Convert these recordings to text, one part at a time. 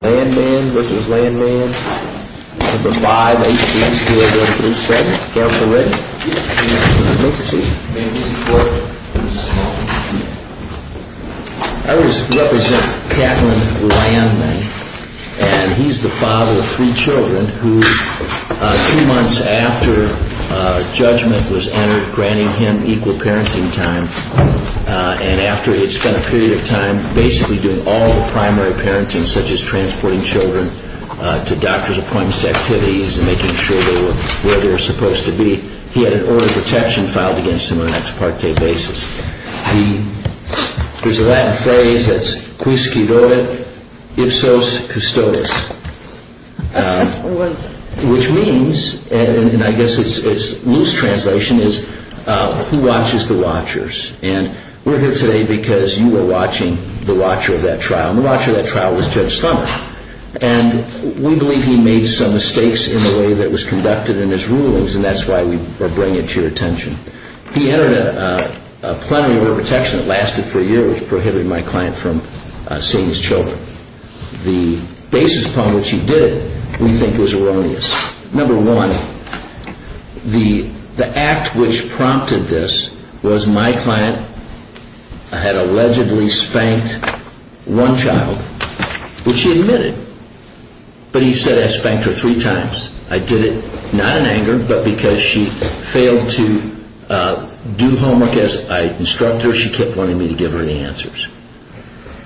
Landmann v. Landmann, No. 5, H.P. 2037. Counselor Ritten. Yes, Your Honor. Make your seat. May I be supported? Yes, Your Honor. Thank you. I represent Katlyn Landmann, and he's the father of three children who, two months after judgment was entered, granted him equal parenting time. And after he had spent a period of time basically doing all the primary parenting, such as transporting children to doctor's appointments and activities, and making sure they were where they were supposed to be, he had an order of protection filed against him on an ex parte basis. There's a Latin phrase that's quisquidoet ipsos custodis, which means, and I guess it's loose translation is, who watches the watchers. And we're here today because you were watching the watcher of that trial, and the watcher of that trial was Judge Summer. And we believe he made some mistakes in the way that was conducted in his rulings, and that's why we are bringing it to your attention. He entered a plenary order of protection that lasted for a year, which prohibited my client from seeing his children. The basis upon which he did it we think was erroneous. Number one, the act which prompted this was my client had allegedly spanked one child, which he admitted. But he said, I spanked her three times. I did it not in anger, but because she failed to do homework as I instructed her. She kept wanting me to give her any answers.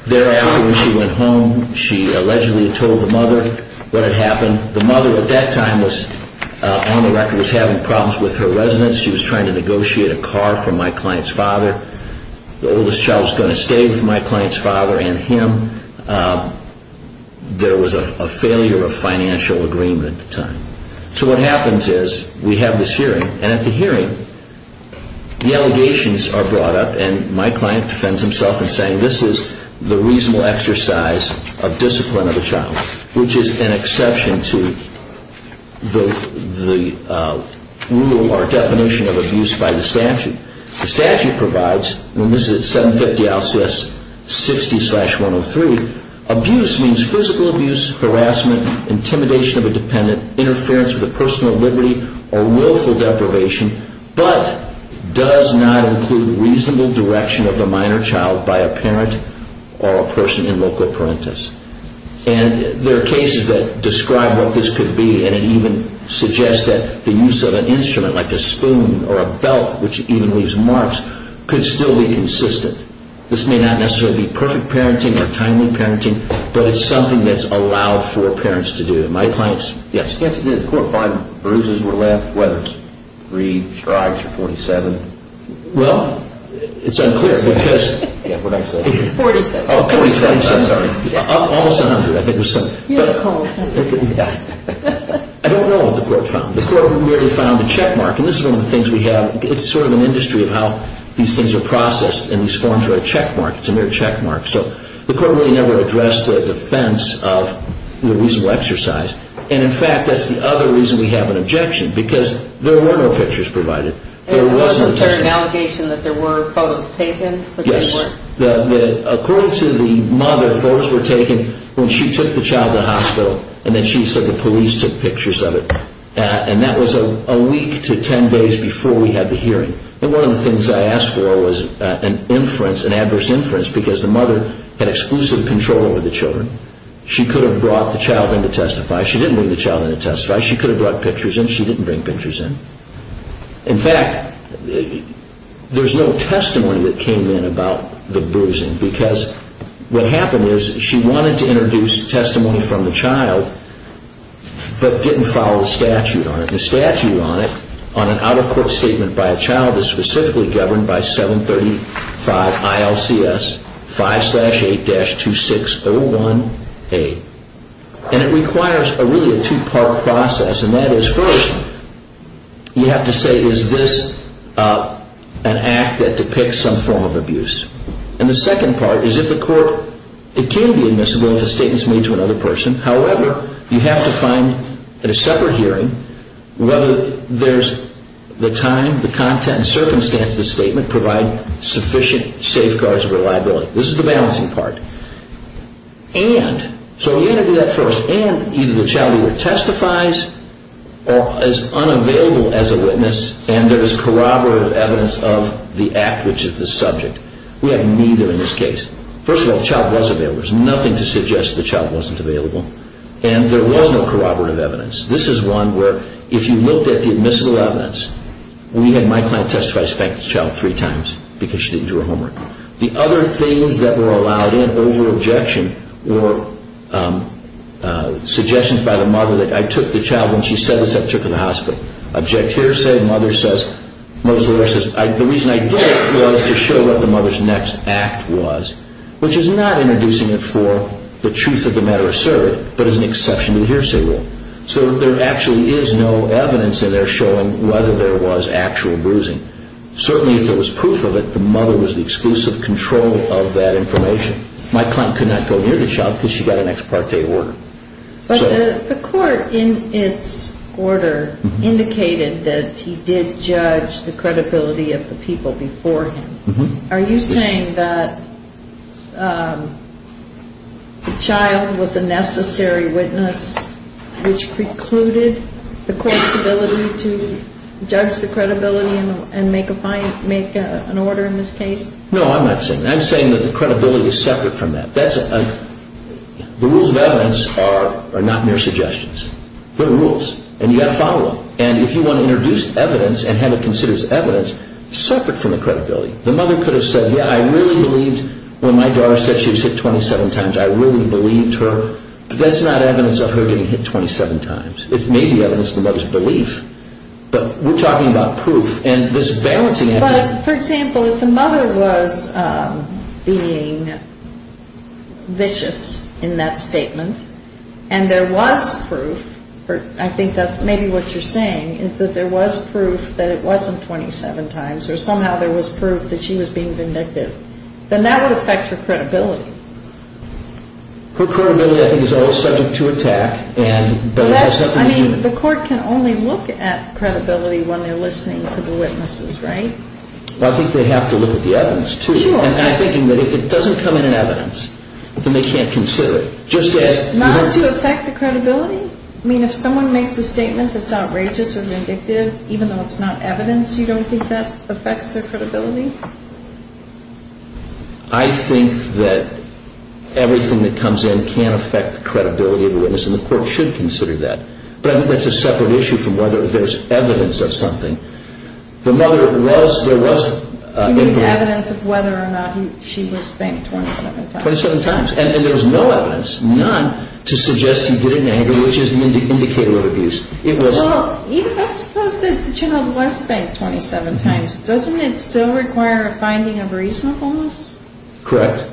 Thereafter, when she went home, she allegedly told the mother what had happened. And the mother at that time was on the record was having problems with her residence. She was trying to negotiate a car for my client's father. The oldest child was going to stay with my client's father and him. There was a failure of financial agreement at the time. So what happens is we have this hearing, and at the hearing the allegations are brought up, and my client defends himself in saying this is the reasonable exercise of discipline of a child, which is an exception to the rule or definition of abuse by the statute. The statute provides, and this is at 750-60-103, abuse means physical abuse, harassment, intimidation of a dependent, interference with a person of liberty, or willful deprivation, but does not include reasonable direction of a minor child by a parent or a person in loco parentis. And there are cases that describe what this could be, and it even suggests that the use of an instrument like a spoon or a belt, which even leaves marks, could still be consistent. This may not necessarily be perfect parenting or timely parenting, but it's something that's allowed for parents to do. My client's, yes. The court finds bruises were left, whether it's three strides or 47. Well, it's unclear because... Yeah, what I said. 47. Oh, 47. I'm sorry. Almost 100, I think. You had a cold. Yeah. I don't know what the court found. The court merely found a checkmark, and this is one of the things we have. It's sort of an industry of how these things are processed, and these forms are a checkmark. It's a mere checkmark. So the court really never addressed the defense of the reasonable exercise. And, in fact, that's the other reason we have an objection, because there were no pictures provided. Wasn't there an allegation that there were photos taken? Yes. According to the mother, photos were taken when she took the child to the hospital and then she said the police took pictures of it, and that was a week to 10 days before we had the hearing. And one of the things I asked for was an inference, an adverse inference, because the mother had exclusive control over the children. She could have brought the child in to testify. She didn't bring the child in to testify. She could have brought pictures in. She didn't bring pictures in. In fact, there's no testimony that came in about the bruising, because what happened is she wanted to introduce testimony from the child, but didn't follow the statute on it. The statute on it, on an out-of-court statement by a child, is specifically governed by 735 ILCS 5-8-2601A. And it requires really a two-part process, and that is first you have to say is this an act that depicts some form of abuse. And the second part is if the court, it can be admissible if a statement is made to another person. However, you have to find at a separate hearing whether there's the time, the content, circumstance of the statement provide sufficient safeguards of reliability. This is the balancing part. And, so you have to do that first. And either the child either testifies or is unavailable as a witness, and there is corroborative evidence of the act which is the subject. We have neither in this case. First of all, the child was available. There's nothing to suggest the child wasn't available. And there was no corroborative evidence. This is one where if you looked at the admissible evidence, we had my client testify to spank this child three times because she didn't do her homework. The other things that were allowed in over objection were suggestions by the mother that I took the child when she said this, I took her to the hospital. Object hearsay, mother says, the reason I did it was to show what the mother's next act was, which is not introducing it for the truth of the matter asserted, but as an exception to the hearsay rule. So there actually is no evidence in there showing whether there was actual bruising. Certainly if there was proof of it, the mother was the exclusive control of that information. My client could not go near the child because she got an ex parte order. But the court in its order indicated that he did judge the credibility of the people before him. Are you saying that the child was a necessary witness which precluded the court's ability to judge the credibility and make an order in this case? No, I'm not saying that. I'm saying that the credibility is separate from that. The rules of evidence are not mere suggestions. They're rules, and you've got to follow them. And if you want to introduce evidence and have it considered as evidence, separate from the credibility. The mother could have said, yeah, I really believed when my daughter said she was hit 27 times. I really believed her. That's not evidence of her getting hit 27 times. It may be evidence of the mother's belief. But we're talking about proof, and this balancing act... But, for example, if the mother was being vicious in that statement, and there was proof, I think that's maybe what you're saying, is that there was proof that it wasn't 27 times, or somehow there was proof that she was being vindictive, then that would affect her credibility. Her credibility, I think, is always subject to attack. I mean, the court can only look at credibility when they're listening to the witnesses, right? Well, I think they have to look at the evidence, too. And I'm thinking that if it doesn't come in as evidence, then they can't consider it. Not to affect the credibility? I mean, if someone makes a statement that's outrageous or vindictive, even though it's not evidence, you don't think that affects their credibility? I think that everything that comes in can affect the credibility of the witness, and the court should consider that. But I think that's a separate issue from whether there's evidence of something. The mother was, there was... You mean evidence of whether or not she was spanked 27 times? 27 times, and there was no evidence, none, to suggest he did it in anger, which is an indicator of abuse. Well, let's suppose that the child was spanked 27 times. Doesn't it still require a finding of reasonableness? Correct.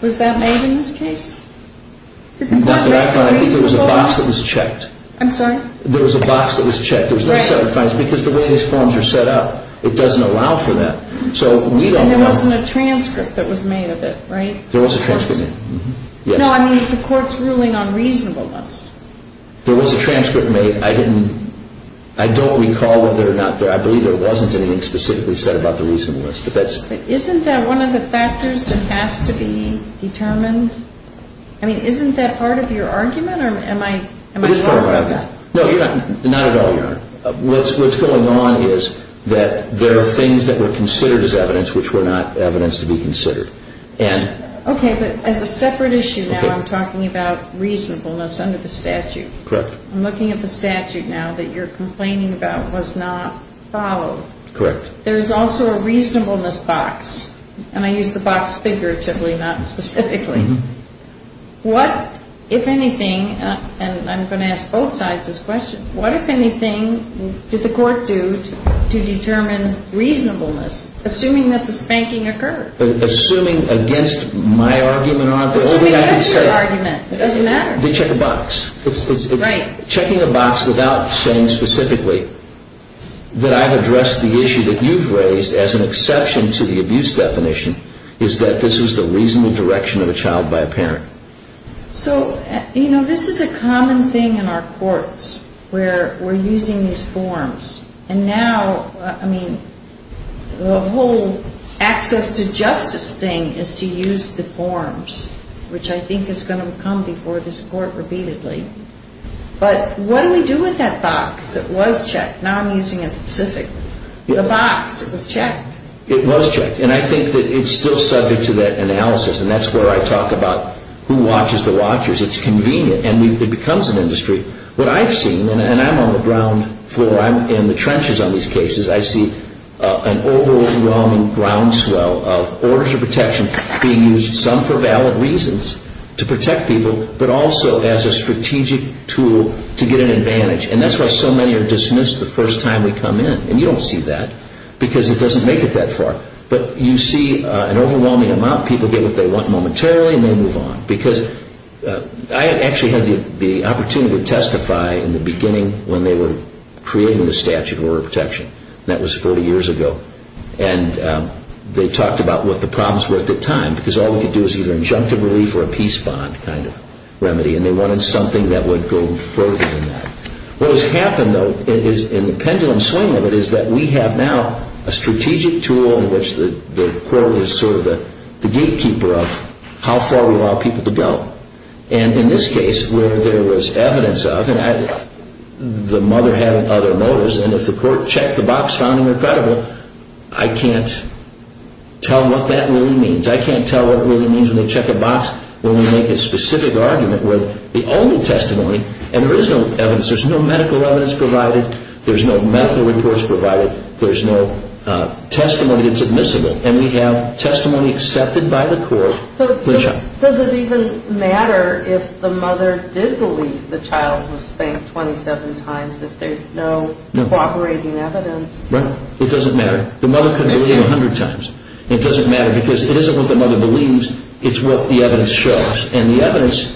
Was that made in this case? Dr. Eichhorn, I think there was a box that was checked. I'm sorry? There was a box that was checked. There was no separate findings, because the way these forms are set up, it doesn't allow for that. So we don't know. And there wasn't a transcript that was made of it, right? There was a transcript, yes. No, I mean, the court's ruling on reasonableness. There was a transcript made. I don't recall whether or not there, I believe there wasn't anything specifically said about the reasonableness. But isn't that one of the factors that has to be determined? I mean, isn't that part of your argument, or am I wrong about that? It is part of my argument. No, not at all, Your Honor. What's going on is that there are things that were considered as evidence which were not evidence to be considered. Okay, but as a separate issue now, I'm talking about reasonableness under the statute. Correct. I'm looking at the statute now that you're complaining about was not followed. Correct. There's also a reasonableness box, and I use the box figuratively, not specifically. What, if anything, and I'm going to ask both sides this question, what, if anything, did the court do to determine reasonableness, assuming that the spanking occurred? Assuming against my argument or the only argument I could say. Assuming against your argument. It doesn't matter. They check a box. Right. It's checking a box without saying specifically that I've addressed the issue that you've raised as an exception to the abuse definition is that this is the reasonable direction of a child by a parent. So, you know, this is a common thing in our courts where we're using these forms, and now, I mean, the whole access to justice thing is to use the forms, which I think is going to come before this court repeatedly. But what do we do with that box that was checked? Now I'm using it specifically. The box, it was checked. It was checked, and I think that it's still subject to that analysis, and that's where I talk about who watches the watchers. It's convenient, and it becomes an industry. What I've seen, and I'm on the ground floor, I'm in the trenches on these cases, I see an overwhelming groundswell of orders of protection being used, some for valid reasons, to protect people, but also as a strategic tool to get an advantage, and that's why so many are dismissed the first time we come in, and you don't see that because it doesn't make it that far. But you see an overwhelming amount. People get what they want momentarily, and they move on because I actually had the opportunity to testify in the beginning when they were creating the statute of order of protection. That was 40 years ago, and they talked about what the problems were at the time because all we could do was either injunctive relief or a peace bond kind of remedy, and they wanted something that would go further than that. What has happened, though, in the pendulum swing of it is that we have now a strategic tool in which the court is sort of the gatekeeper of how far we allow people to go, and in this case, where there was evidence of it, and the mother had other motives, and if the court checked the box found in her credible, I can't tell what that really means. I can't tell what it really means when they check a box when we make a specific argument with the only testimony, and there is no evidence. There's no medical evidence provided. There's no medical reports provided. There's no testimony that's admissible, and we have testimony accepted by the court. So does it even matter if the mother did believe the child was spanked 27 times if there's no cooperating evidence? Right. It doesn't matter. The mother couldn't believe it 100 times. It doesn't matter because it isn't what the mother believes. It's what the evidence shows, and the evidence,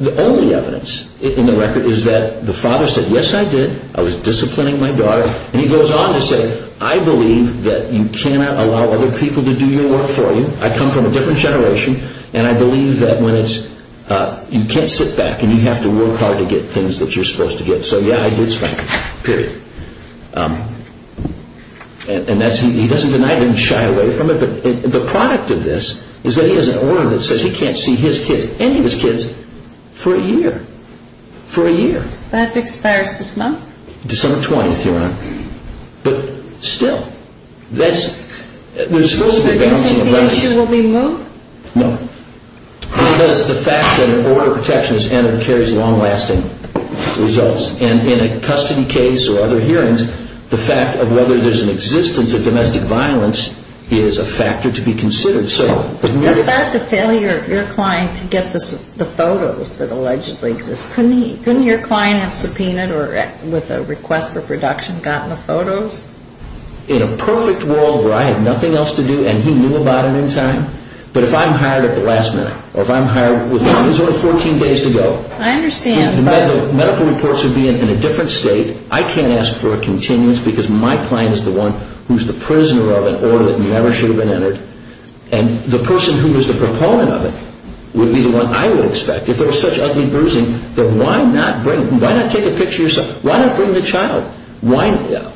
the only evidence in the record, is that the father said, yes, I did. I was disciplining my daughter, and he goes on to say, I believe that you cannot allow other people to do your work for you. I come from a different generation, and I believe that when it's, you can't sit back and you have to work hard to get things that you're supposed to get. So, yeah, I did spank him, period. And that's, he doesn't deny it, he doesn't shy away from it, but the product of this is that he has an order that says he can't see his kids, any of his kids, for a year, for a year. That expires this month? December 20th, Your Honor. But still, that's, there's supposed to be a balancing effect. Do you think the issue will be moved? No. Because the fact that an order of protection is entered carries long-lasting results. And in a custody case or other hearings, the fact of whether there's an existence of domestic violence is a factor to be considered. What about the failure of your client to get the photos that allegedly exist? Couldn't your client have subpoenaed or, with a request for production, gotten the photos? In a perfect world where I had nothing else to do and he knew about it in time? But if I'm hired at the last minute, or if I'm hired with, he's only 14 days to go. I understand, but. The medical reports would be in a different state. I can't ask for a continuance because my client is the one who's the prisoner of an order that never should have been entered, and the person who is the proponent of it would be the one I would expect. If there's such ugly bruising, then why not take a picture yourself? Why not bring the child?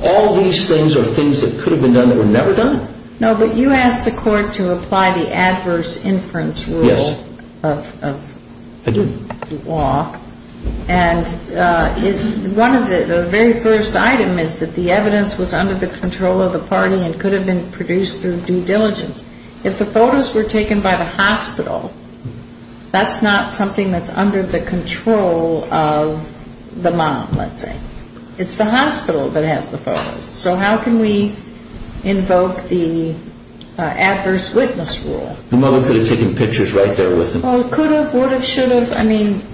All these things are things that could have been done that were never done. No, but you asked the court to apply the adverse inference rule of the law. And the very first item is that the evidence was under the control of the party and could have been produced through due diligence. If the photos were taken by the hospital, that's not something that's under the control of the mom, let's say. It's the hospital that has the photos. So how can we invoke the adverse witness rule? The mother could have taken pictures right there with him. Well, could have, would have, should have.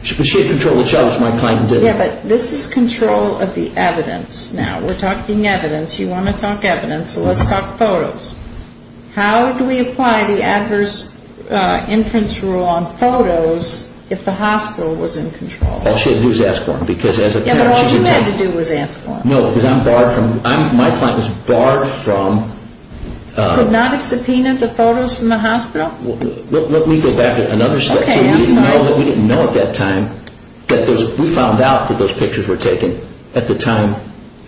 She had control of the child, which my client didn't. Yeah, but this is control of the evidence now. We're talking evidence. You want to talk evidence, so let's talk photos. How do we apply the adverse inference rule on photos if the hospital was in control? All she had to do was ask for them. Yeah, but all she had to do was ask for them. No, because I'm barred from, my client was barred from... Could not have subpoenaed the photos from the hospital. Let me go back to another slide. Okay, I'm sorry. We didn't know at that time that those, we found out that those pictures were taken at the time.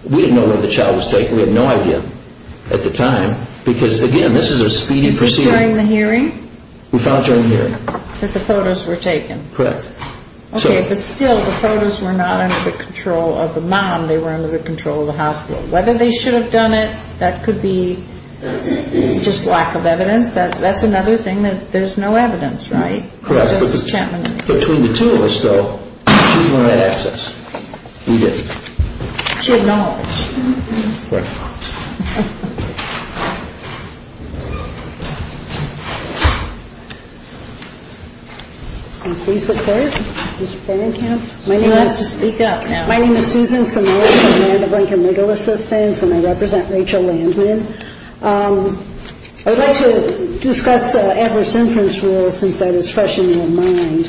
We didn't know when the child was taken. We had no idea at the time because, again, this is a speedy procedure. Is this during the hearing? We found it during the hearing. That the photos were taken. Correct. Okay, but still the photos were not under the control of the mom. They were under the control of the hospital. Whether they should have done it, that could be just lack of evidence. That's another thing that there's no evidence, right? Correct. Between the two of us, though, she's the one that asked us. We didn't. She had knowledge. Correct. Please look forward, Mr. Farrington. My name is... You have to speak up now. My name is Susan Simone. I'm a member of Lincoln Legal Assistance, and I represent Rachel Landman. I would like to discuss adverse inference rules since that is fresh in your mind.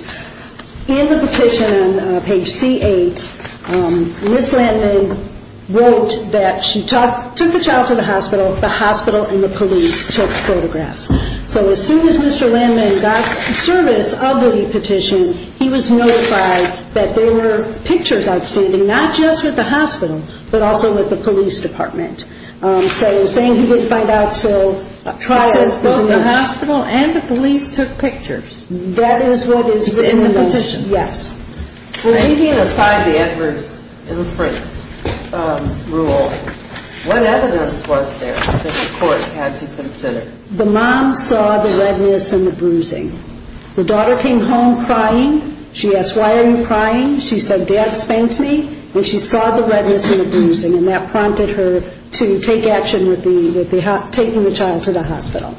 In the petition on page C8, Ms. Landman wrote that she took the child to the hospital. The hospital and the police took photographs. So as soon as Mr. Landman got service of the petition, he was notified that there were pictures outstanding not just with the hospital but also with the police department. So saying he wouldn't find out until trial. It says both the hospital and the police took pictures. That is what is written in the petition. It's in the motion. Yes. Leaving aside the adverse inference rule, what evidence was there that the court had to consider? The mom saw the redness and the bruising. The daughter came home crying. She asked, why are you crying? She said, Dad spanked me. And she saw the redness and the bruising, and that prompted her to take action with taking the child to the hospital.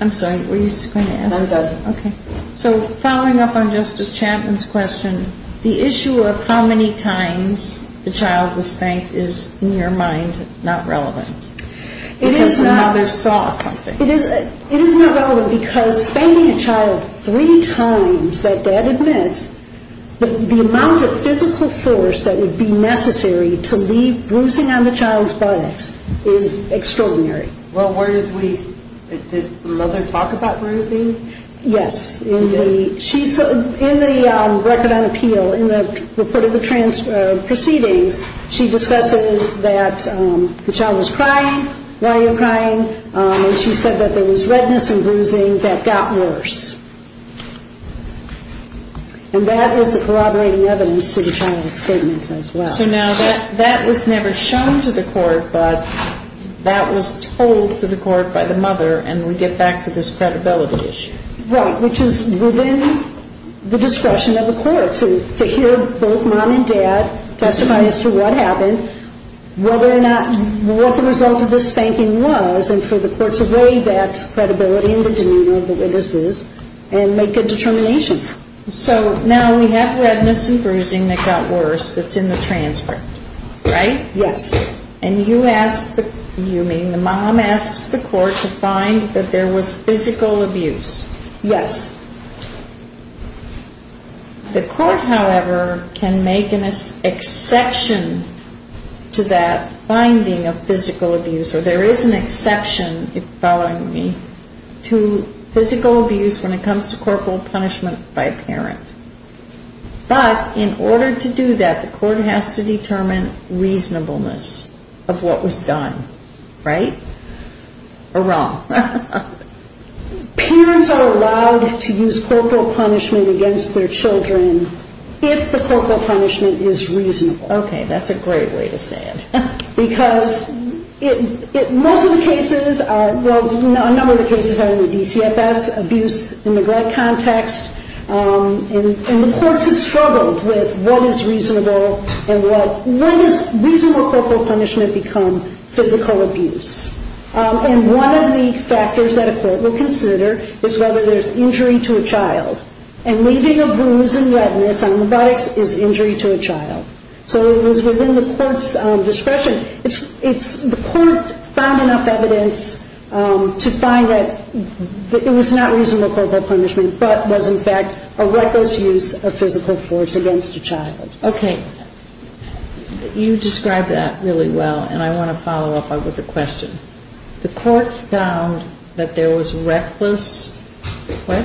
I'm sorry, were you just going to ask? No, I'm done. Okay. So following up on Justice Chapman's question, the issue of how many times the child was spanked is, in your mind, not relevant? It is not. Because the mother saw something. It is not relevant because spanking a child three times, that Dad admits, the amount of physical force that would be necessary to leave bruising on the child's buttocks is extraordinary. Well, did the mother talk about bruising? Yes. In the record on appeal, in the report of the proceedings, she discusses that the child was crying, why you're crying, and she said that there was redness and bruising that got worse. And that was a corroborating evidence to the child's statements as well. So now that was never shown to the court, but that was told to the court by the mother, and we get back to this credibility issue. Right, which is within the discretion of the court to hear both Mom and Dad testify as to what happened, whether or not what the result of the spanking was, and for the court to weigh that credibility and the demeanor of the witnesses and make a determination. So now we have redness and bruising that got worse that's in the transcript, right? Yes. And you ask, you mean the mom asks the court to find that there was physical abuse. Yes. The court, however, can make an exception to that finding of physical abuse, or there is an exception, if you're following me, to physical abuse when it comes to corporal punishment by a parent. But in order to do that, the court has to determine reasonableness of what was done, right? Or wrong? Parents are allowed to use corporal punishment against their children if the corporal punishment is reasonable. Okay, that's a great way to say it. Because most of the cases are, well, a number of the cases are in the DCFS abuse in neglect context, and the courts have struggled with what is reasonable and when does reasonable corporal punishment become physical abuse. And one of the factors that a court will consider is whether there's injury to a child, and leaving a bruise and redness on the buttocks is injury to a child. So it was within the court's discretion. The court found enough evidence to find that it was not reasonable corporal punishment but was, in fact, a reckless use of physical force against a child. Okay. You described that really well, and I want to follow up with a question. The court found that there was reckless, what?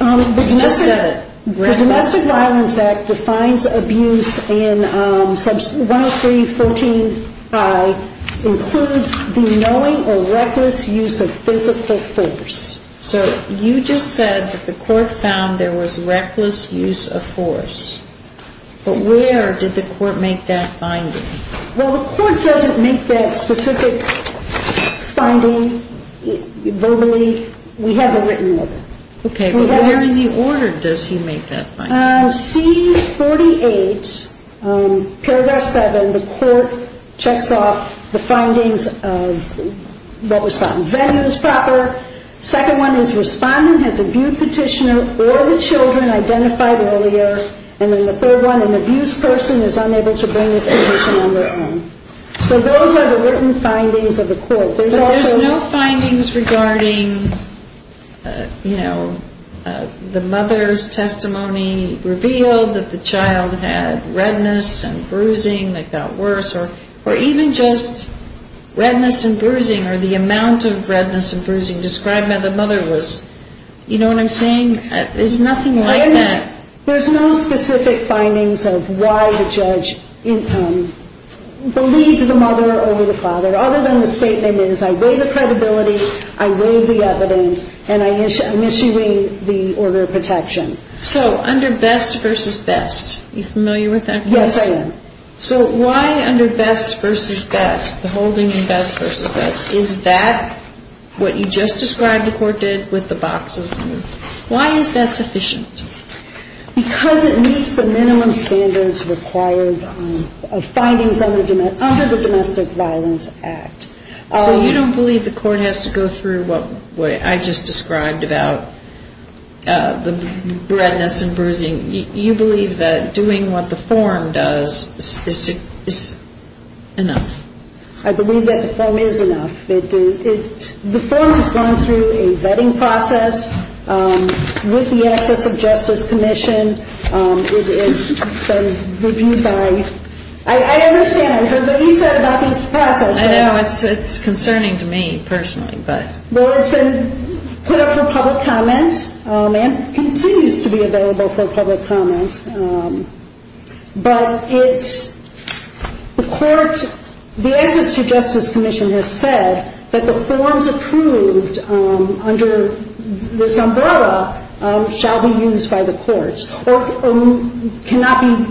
You just said it. The Domestic Violence Act defines abuse in 103.14i includes the knowing or reckless use of physical force. So you just said that the court found there was reckless use of force. But where did the court make that finding? Well, the court doesn't make that specific finding verbally. We have a written order. Okay, but where in the order does he make that finding? C48, Paragraph 7, the court checks off the findings of what was found. Venue is proper. Second one is respondent has abused petitioner or the children identified earlier. And then the third one, an abused person is unable to bring his petition on their own. So those are the written findings of the court. But there's no findings regarding, you know, the mother's testimony revealed that the child had redness and bruising that got worse or even just redness and bruising or the amount of redness and bruising described by the mother was, you know what I'm saying? There's nothing like that. There's no specific findings of why the judge believed the mother over the father, other than the statement is I weigh the credibility, I weigh the evidence, and I'm issuing the order of protection. So under best versus best, are you familiar with that? Yes, I am. So why under best versus best, the holding in best versus best, is that what you just described the court did with the boxes? Why is that sufficient? Because it meets the minimum standards required of findings under the Domestic Violence Act. So you don't believe the court has to go through what I just described about the redness and bruising? You believe that doing what the form does is enough? I believe that the form is enough. The form has gone through a vetting process with the Access to Justice Commission. It has been reviewed by ‑‑ I understand. I heard what you said about this process. I know. It's concerning to me personally. Well, it's been put up for public comment and continues to be available for public comment. But it's ‑‑ the court ‑‑ the Access to Justice Commission has said that the forms approved under this umbrella shall be used by the courts or cannot be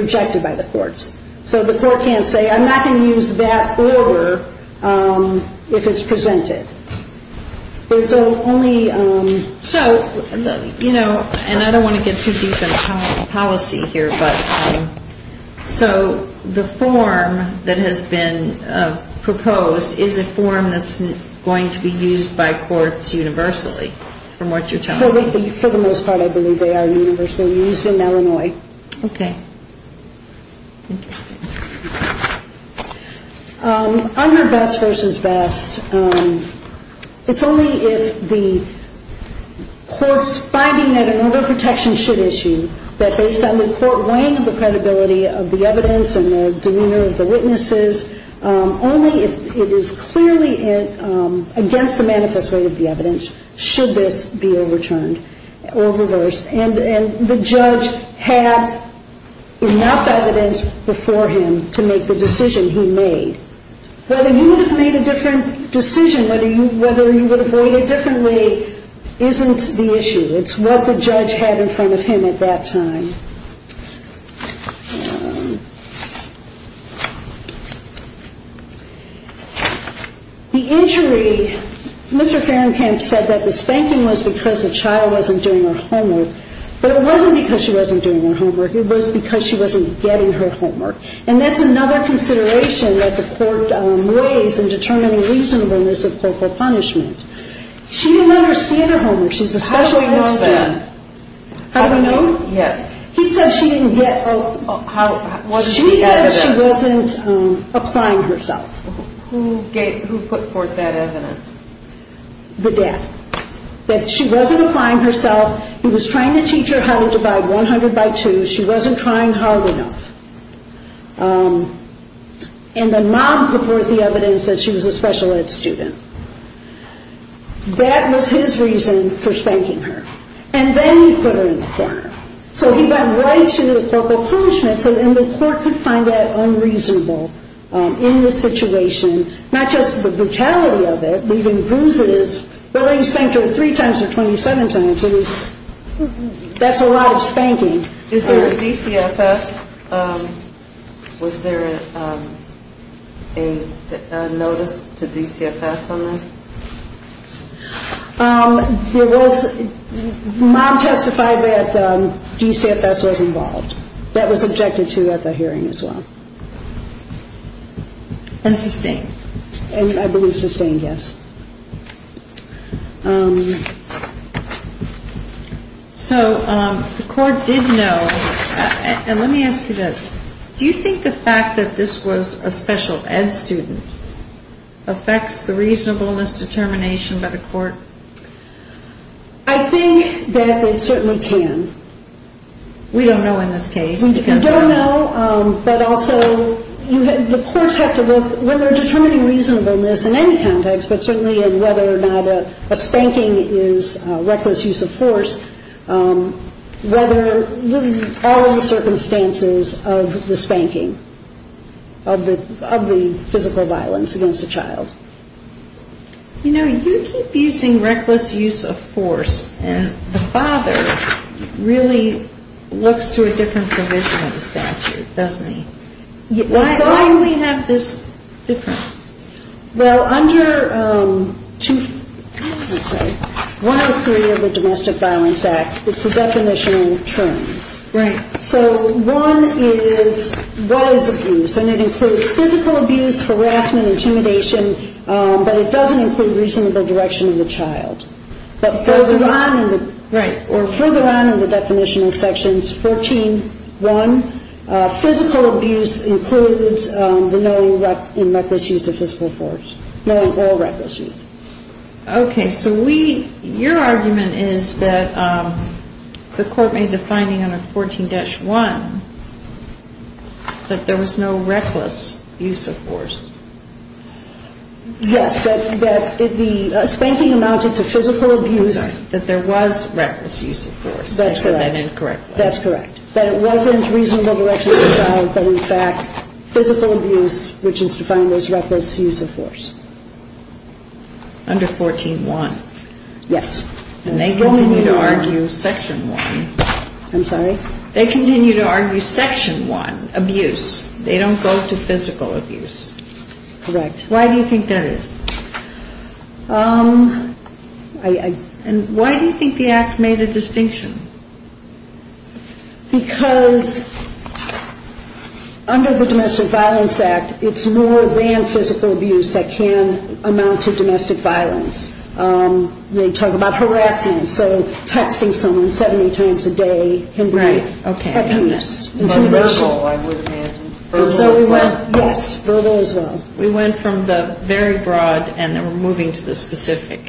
rejected by the courts. So the court can't say I'm not going to use that order if it's presented. It's only ‑‑ So, you know, and I don't want to get too deep in policy here, but so the form that has been proposed is a form that's going to be used by courts universally from what you're telling me? For the most part, I believe they are universally used in Illinois. Okay. Interesting. Under best versus best, it's only if the court's finding that an overprotection should issue, that based on the court weighing of the credibility of the evidence and the demeanor of the witnesses, only if it is clearly against the manifest way of the evidence should this be overturned or reversed. And the judge had enough evidence before him to make the decision he made. Whether you would have made a different decision, whether you would have weighed it differently isn't the issue. It's what the judge had in front of him at that time. The injury, Mr. Ferencamp said that the spanking was because the child wasn't doing her homework, but it wasn't because she wasn't doing her homework. It was because she wasn't getting her homework. And that's another consideration that the court weighs in determining reasonableness of focal punishment. She didn't understand her homework. She's a specialist. How do we know that? How do we know? Yes. He said she didn't get her homework. She said she wasn't applying herself. Who put forth that evidence? The dad. That she wasn't applying herself. He was trying to teach her how to divide 100 by 2. She wasn't trying hard enough. And the mom put forth the evidence that she was a special ed student. That was his reason for spanking her. And then he put her in court. So he got right to the focal punishment. And the court could find that unreasonable in this situation. Not just the brutality of it, but even bruises. Well, he spanked her 3 times or 27 times. That's a lot of spanking. DCFS, was there a notice to DCFS on this? There was. Mom testified that DCFS was involved. That was objected to at the hearing as well. And sustained? I believe sustained, yes. So the court did know. And let me ask you this. Do you think the fact that this was a special ed student affects the reasonableness determination by the court? I think that it certainly can. We don't know in this case. We don't know, but also the courts have to look. When they're determining reasonableness in any context, but certainly in whether or not a spanking is reckless use of force, whether all of the circumstances of the spanking, of the physical violence, of the domestic violence against a child. You know, you keep using reckless use of force, and the father really looks to a different provision of the statute, doesn't he? Why do we have this difference? Well, under 103 of the Domestic Violence Act, it's a definition of terms. Right. So one is what is abuse? And it includes physical abuse, harassment, intimidation, but it doesn't include reasonable direction of the child. But further on in the definition in sections 14.1, physical abuse includes the knowing and reckless use of physical force, knowing all reckless use. Okay. So we, your argument is that the court made the finding under 14-1 that there was no reckless use of force. Yes. That the spanking amounted to physical abuse. That there was reckless use of force. That's correct. They said that incorrectly. That's correct. That it wasn't reasonable direction of the child, but in fact, physical abuse, which is defined as reckless use of force. Under 14-1. Yes. And they continue to argue section 1. I'm sorry? They continue to argue section 1, abuse. They don't go to physical abuse. Correct. Why do you think that is? And why do you think the Act made a distinction? Because under the Domestic Violence Act, it's more than physical abuse that can amount to domestic violence. They talk about harassment. So texting someone 70 times a day. Right. Okay. Verbal, I would imagine. Verbal as well. Yes. Verbal as well.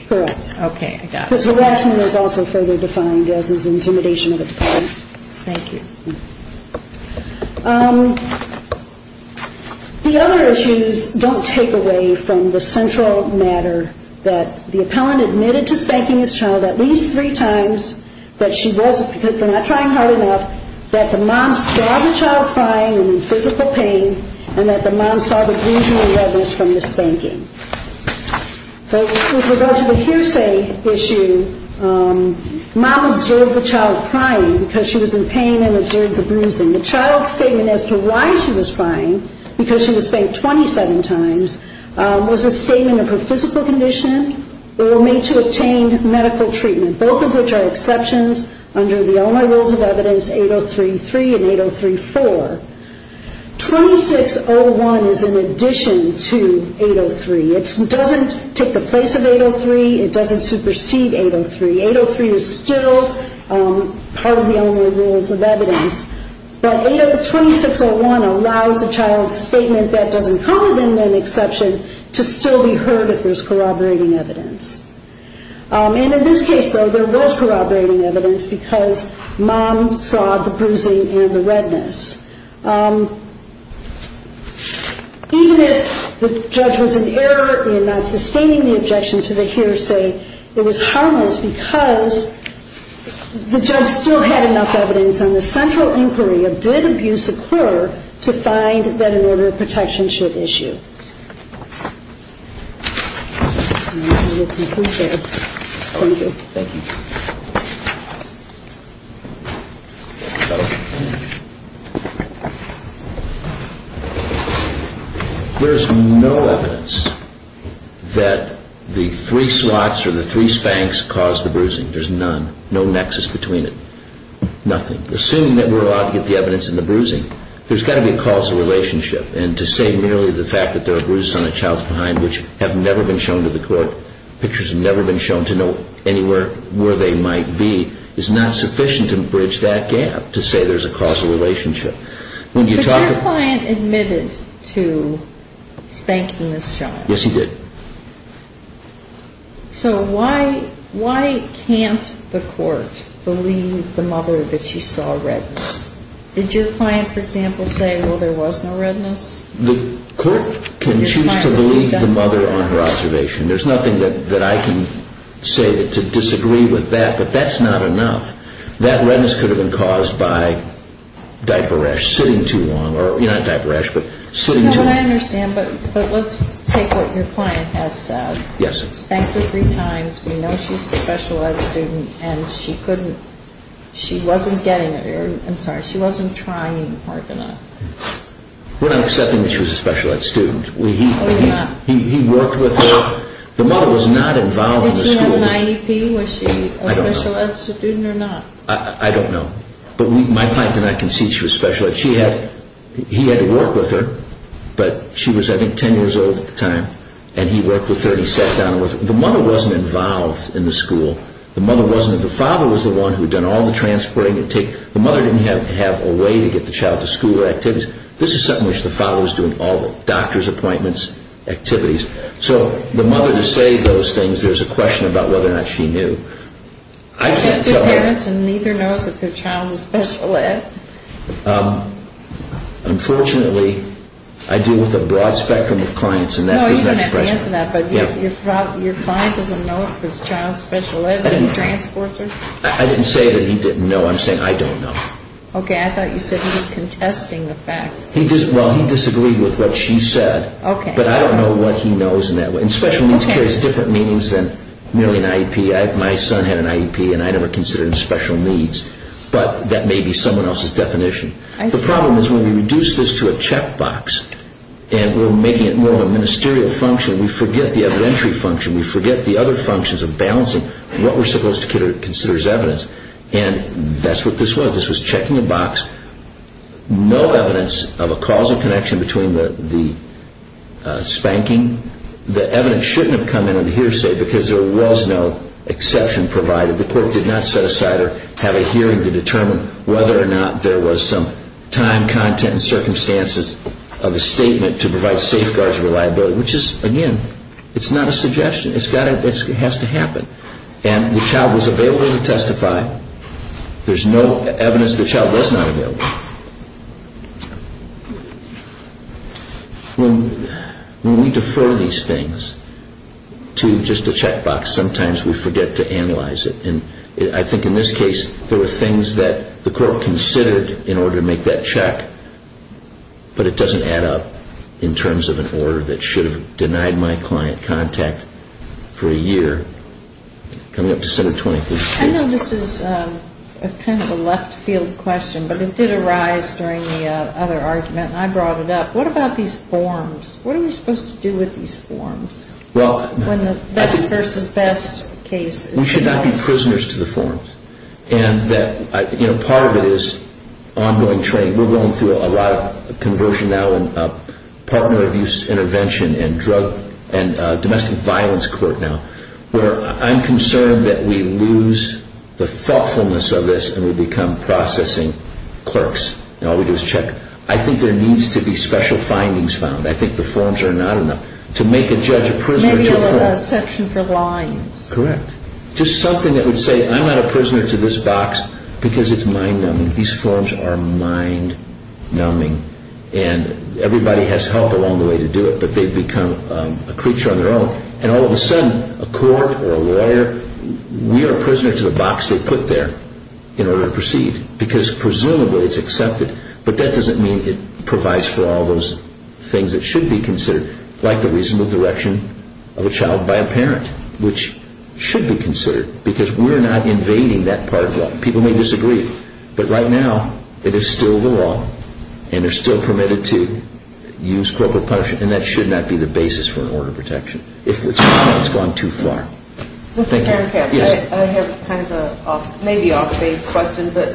Correct. Okay, I got it. Because harassment is also further defined as intimidation of the parent. Thank you. The other issues don't take away from the central matter that the appellant admitted to spanking his child at least three times, but she wasn't because they're not trying hard enough, that the mom saw the child crying in physical pain and that the mom saw the bruising and redness from the spanking. But with regard to the hearsay issue, mom observed the child crying because she was in pain and observed the bruising. The child's statement as to why she was crying, because she was spanked 27 times, was a statement of her physical condition or made to obtain medical treatment, both of which are exceptions under the Elmer Rules of Evidence 8033 and 8034. 2601 is in addition to 803. It doesn't take the place of 803. It doesn't supersede 803. 803 is still part of the Elmer Rules of Evidence. But 2601 allows a child's statement that doesn't come within an exception to still be heard if there's corroborating evidence. And in this case, though, there was corroborating evidence because mom saw the bruising and the redness. Even if the judge was in error in not sustaining the objection to the hearsay, it was harmless because the judge still had enough evidence on the central inquiry of did abuse occur to find that an order of protection should issue. Thank you. There's no evidence that the three slots or the three spanks caused the bruising. There's none. No nexus between it. Nothing. Assuming that we're allowed to get the evidence in the bruising, there's got to be a causal relationship. And to say merely the fact that there are bruises on a child's behind which have never been shown to the court, pictures have never been shown to know anywhere where they might be, is not sufficient to bridge that gap to say there's a causal relationship. Was your client admitted to spanking this child? Yes, he did. So why can't the court believe the mother that she saw redness? Did your client, for example, say, well, there was no redness? The court can choose to believe the mother on her observation. There's nothing that I can say to disagree with that, but that's not enough. That redness could have been caused by diaper rash, sitting too long, or not diaper rash, but sitting too long. You know what I understand, but let's take what your client has said. Yes. Spanked her three times. We know she's a special ed student, and she wasn't trying hard enough. We're not accepting that she was a special ed student. He worked with her. The mother was not involved in the school. Did she have an IEP? Was she a special ed student or not? I don't know, but my client and I can see she was special ed. He had to work with her, but she was, I think, 10 years old at the time, and he worked with her, and he sat down with her. The mother wasn't involved in the school. The mother wasn't. The father was the one who had done all the transporting. The mother didn't have a way to get the child to school or activities. This is something which the father was doing, all the doctor's appointments, activities. So the mother, to say those things, there's a question about whether or not she knew. I can't tell her. She went to her parents, and neither knows that their child was special ed. Unfortunately, I deal with a broad spectrum of clients, and that is an expression. Your client doesn't know if his child is special ed, but he transports her? I didn't say that he didn't know. I'm saying I don't know. Okay. I thought you said he was contesting the fact. Well, he disagreed with what she said, but I don't know what he knows in that way. And special needs carries different meanings than merely an IEP. My son had an IEP, and I never considered him special needs, but that may be someone else's definition. The problem is when we reduce this to a checkbox and we're making it more of a ministerial function, we forget the evidentiary function. We forget the other functions of balancing what we're supposed to consider as evidence, and that's what this was. This was checking a box, no evidence of a causal connection between the spanking. The evidence shouldn't have come in on a hearsay because there was no exception provided. The court did not set aside or have a hearing to determine whether or not there was some time, content, and circumstances of a statement to provide safeguards of reliability, which is, again, it's not a suggestion. It has to happen. And the child was available to testify. There's no evidence the child was not available. When we defer these things to just a checkbox, sometimes we forget to analyze it. I think in this case, there were things that the court considered in order to make that check, but it doesn't add up in terms of an order that should have denied my client contact for a year. Coming up to Senate 23. I know this is kind of a left-field question, but it did arise during the other argument, and I brought it up. What about these forms? What are we supposed to do with these forms? When the best versus best case is the best. We should not be prisoners to the forms. Part of it is ongoing training. We're going through a lot of conversion now and partner abuse intervention and domestic violence court now where I'm concerned that we lose the thoughtfulness of this and we become processing clerks, and all we do is check. I think there needs to be special findings found. I think the forms are not enough. Maybe a section for lines. Correct. Just something that would say, I'm not a prisoner to this box because it's mind-numbing. These forms are mind-numbing, and everybody has help along the way to do it, but they become a creature on their own. And all of a sudden, a court or a lawyer, we are prisoners to the box they put there in order to proceed because presumably it's accepted, but that doesn't mean it provides for all those things that should be considered. Like the reasonable direction of a child by a parent, which should be considered because we're not invading that part of law. People may disagree, but right now it is still the law, and they're still permitted to use corporate punishment, and that should not be the basis for an order of protection if it's gone too far. Mr. Karen Kapsch, I have kind of a maybe off-base question, but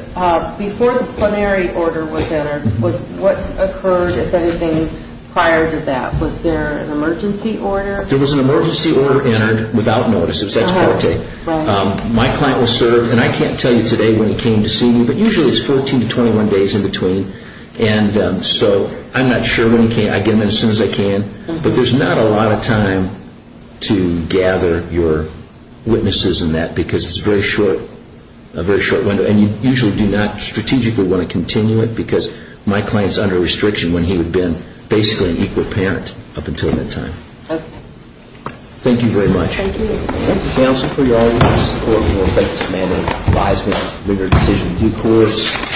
before the plenary order was entered, what occurred, if anything, prior to that? Was there an emergency order? There was an emergency order entered without notice. My client was served, and I can't tell you today when he came to see me, but usually it's 14 to 21 days in between, and so I'm not sure when he came. I get him in as soon as I can, but there's not a lot of time to gather your witnesses in that because it's a very short window, and you usually do not strategically want to continue it because my client is under restriction when he would have been basically an equal parent up until mid-time. Okay. Thank you very much. Thank you. Thank you, counsel, for your audience and support. We want to thank Mr. Manning, advisement, rigorous decision, due course.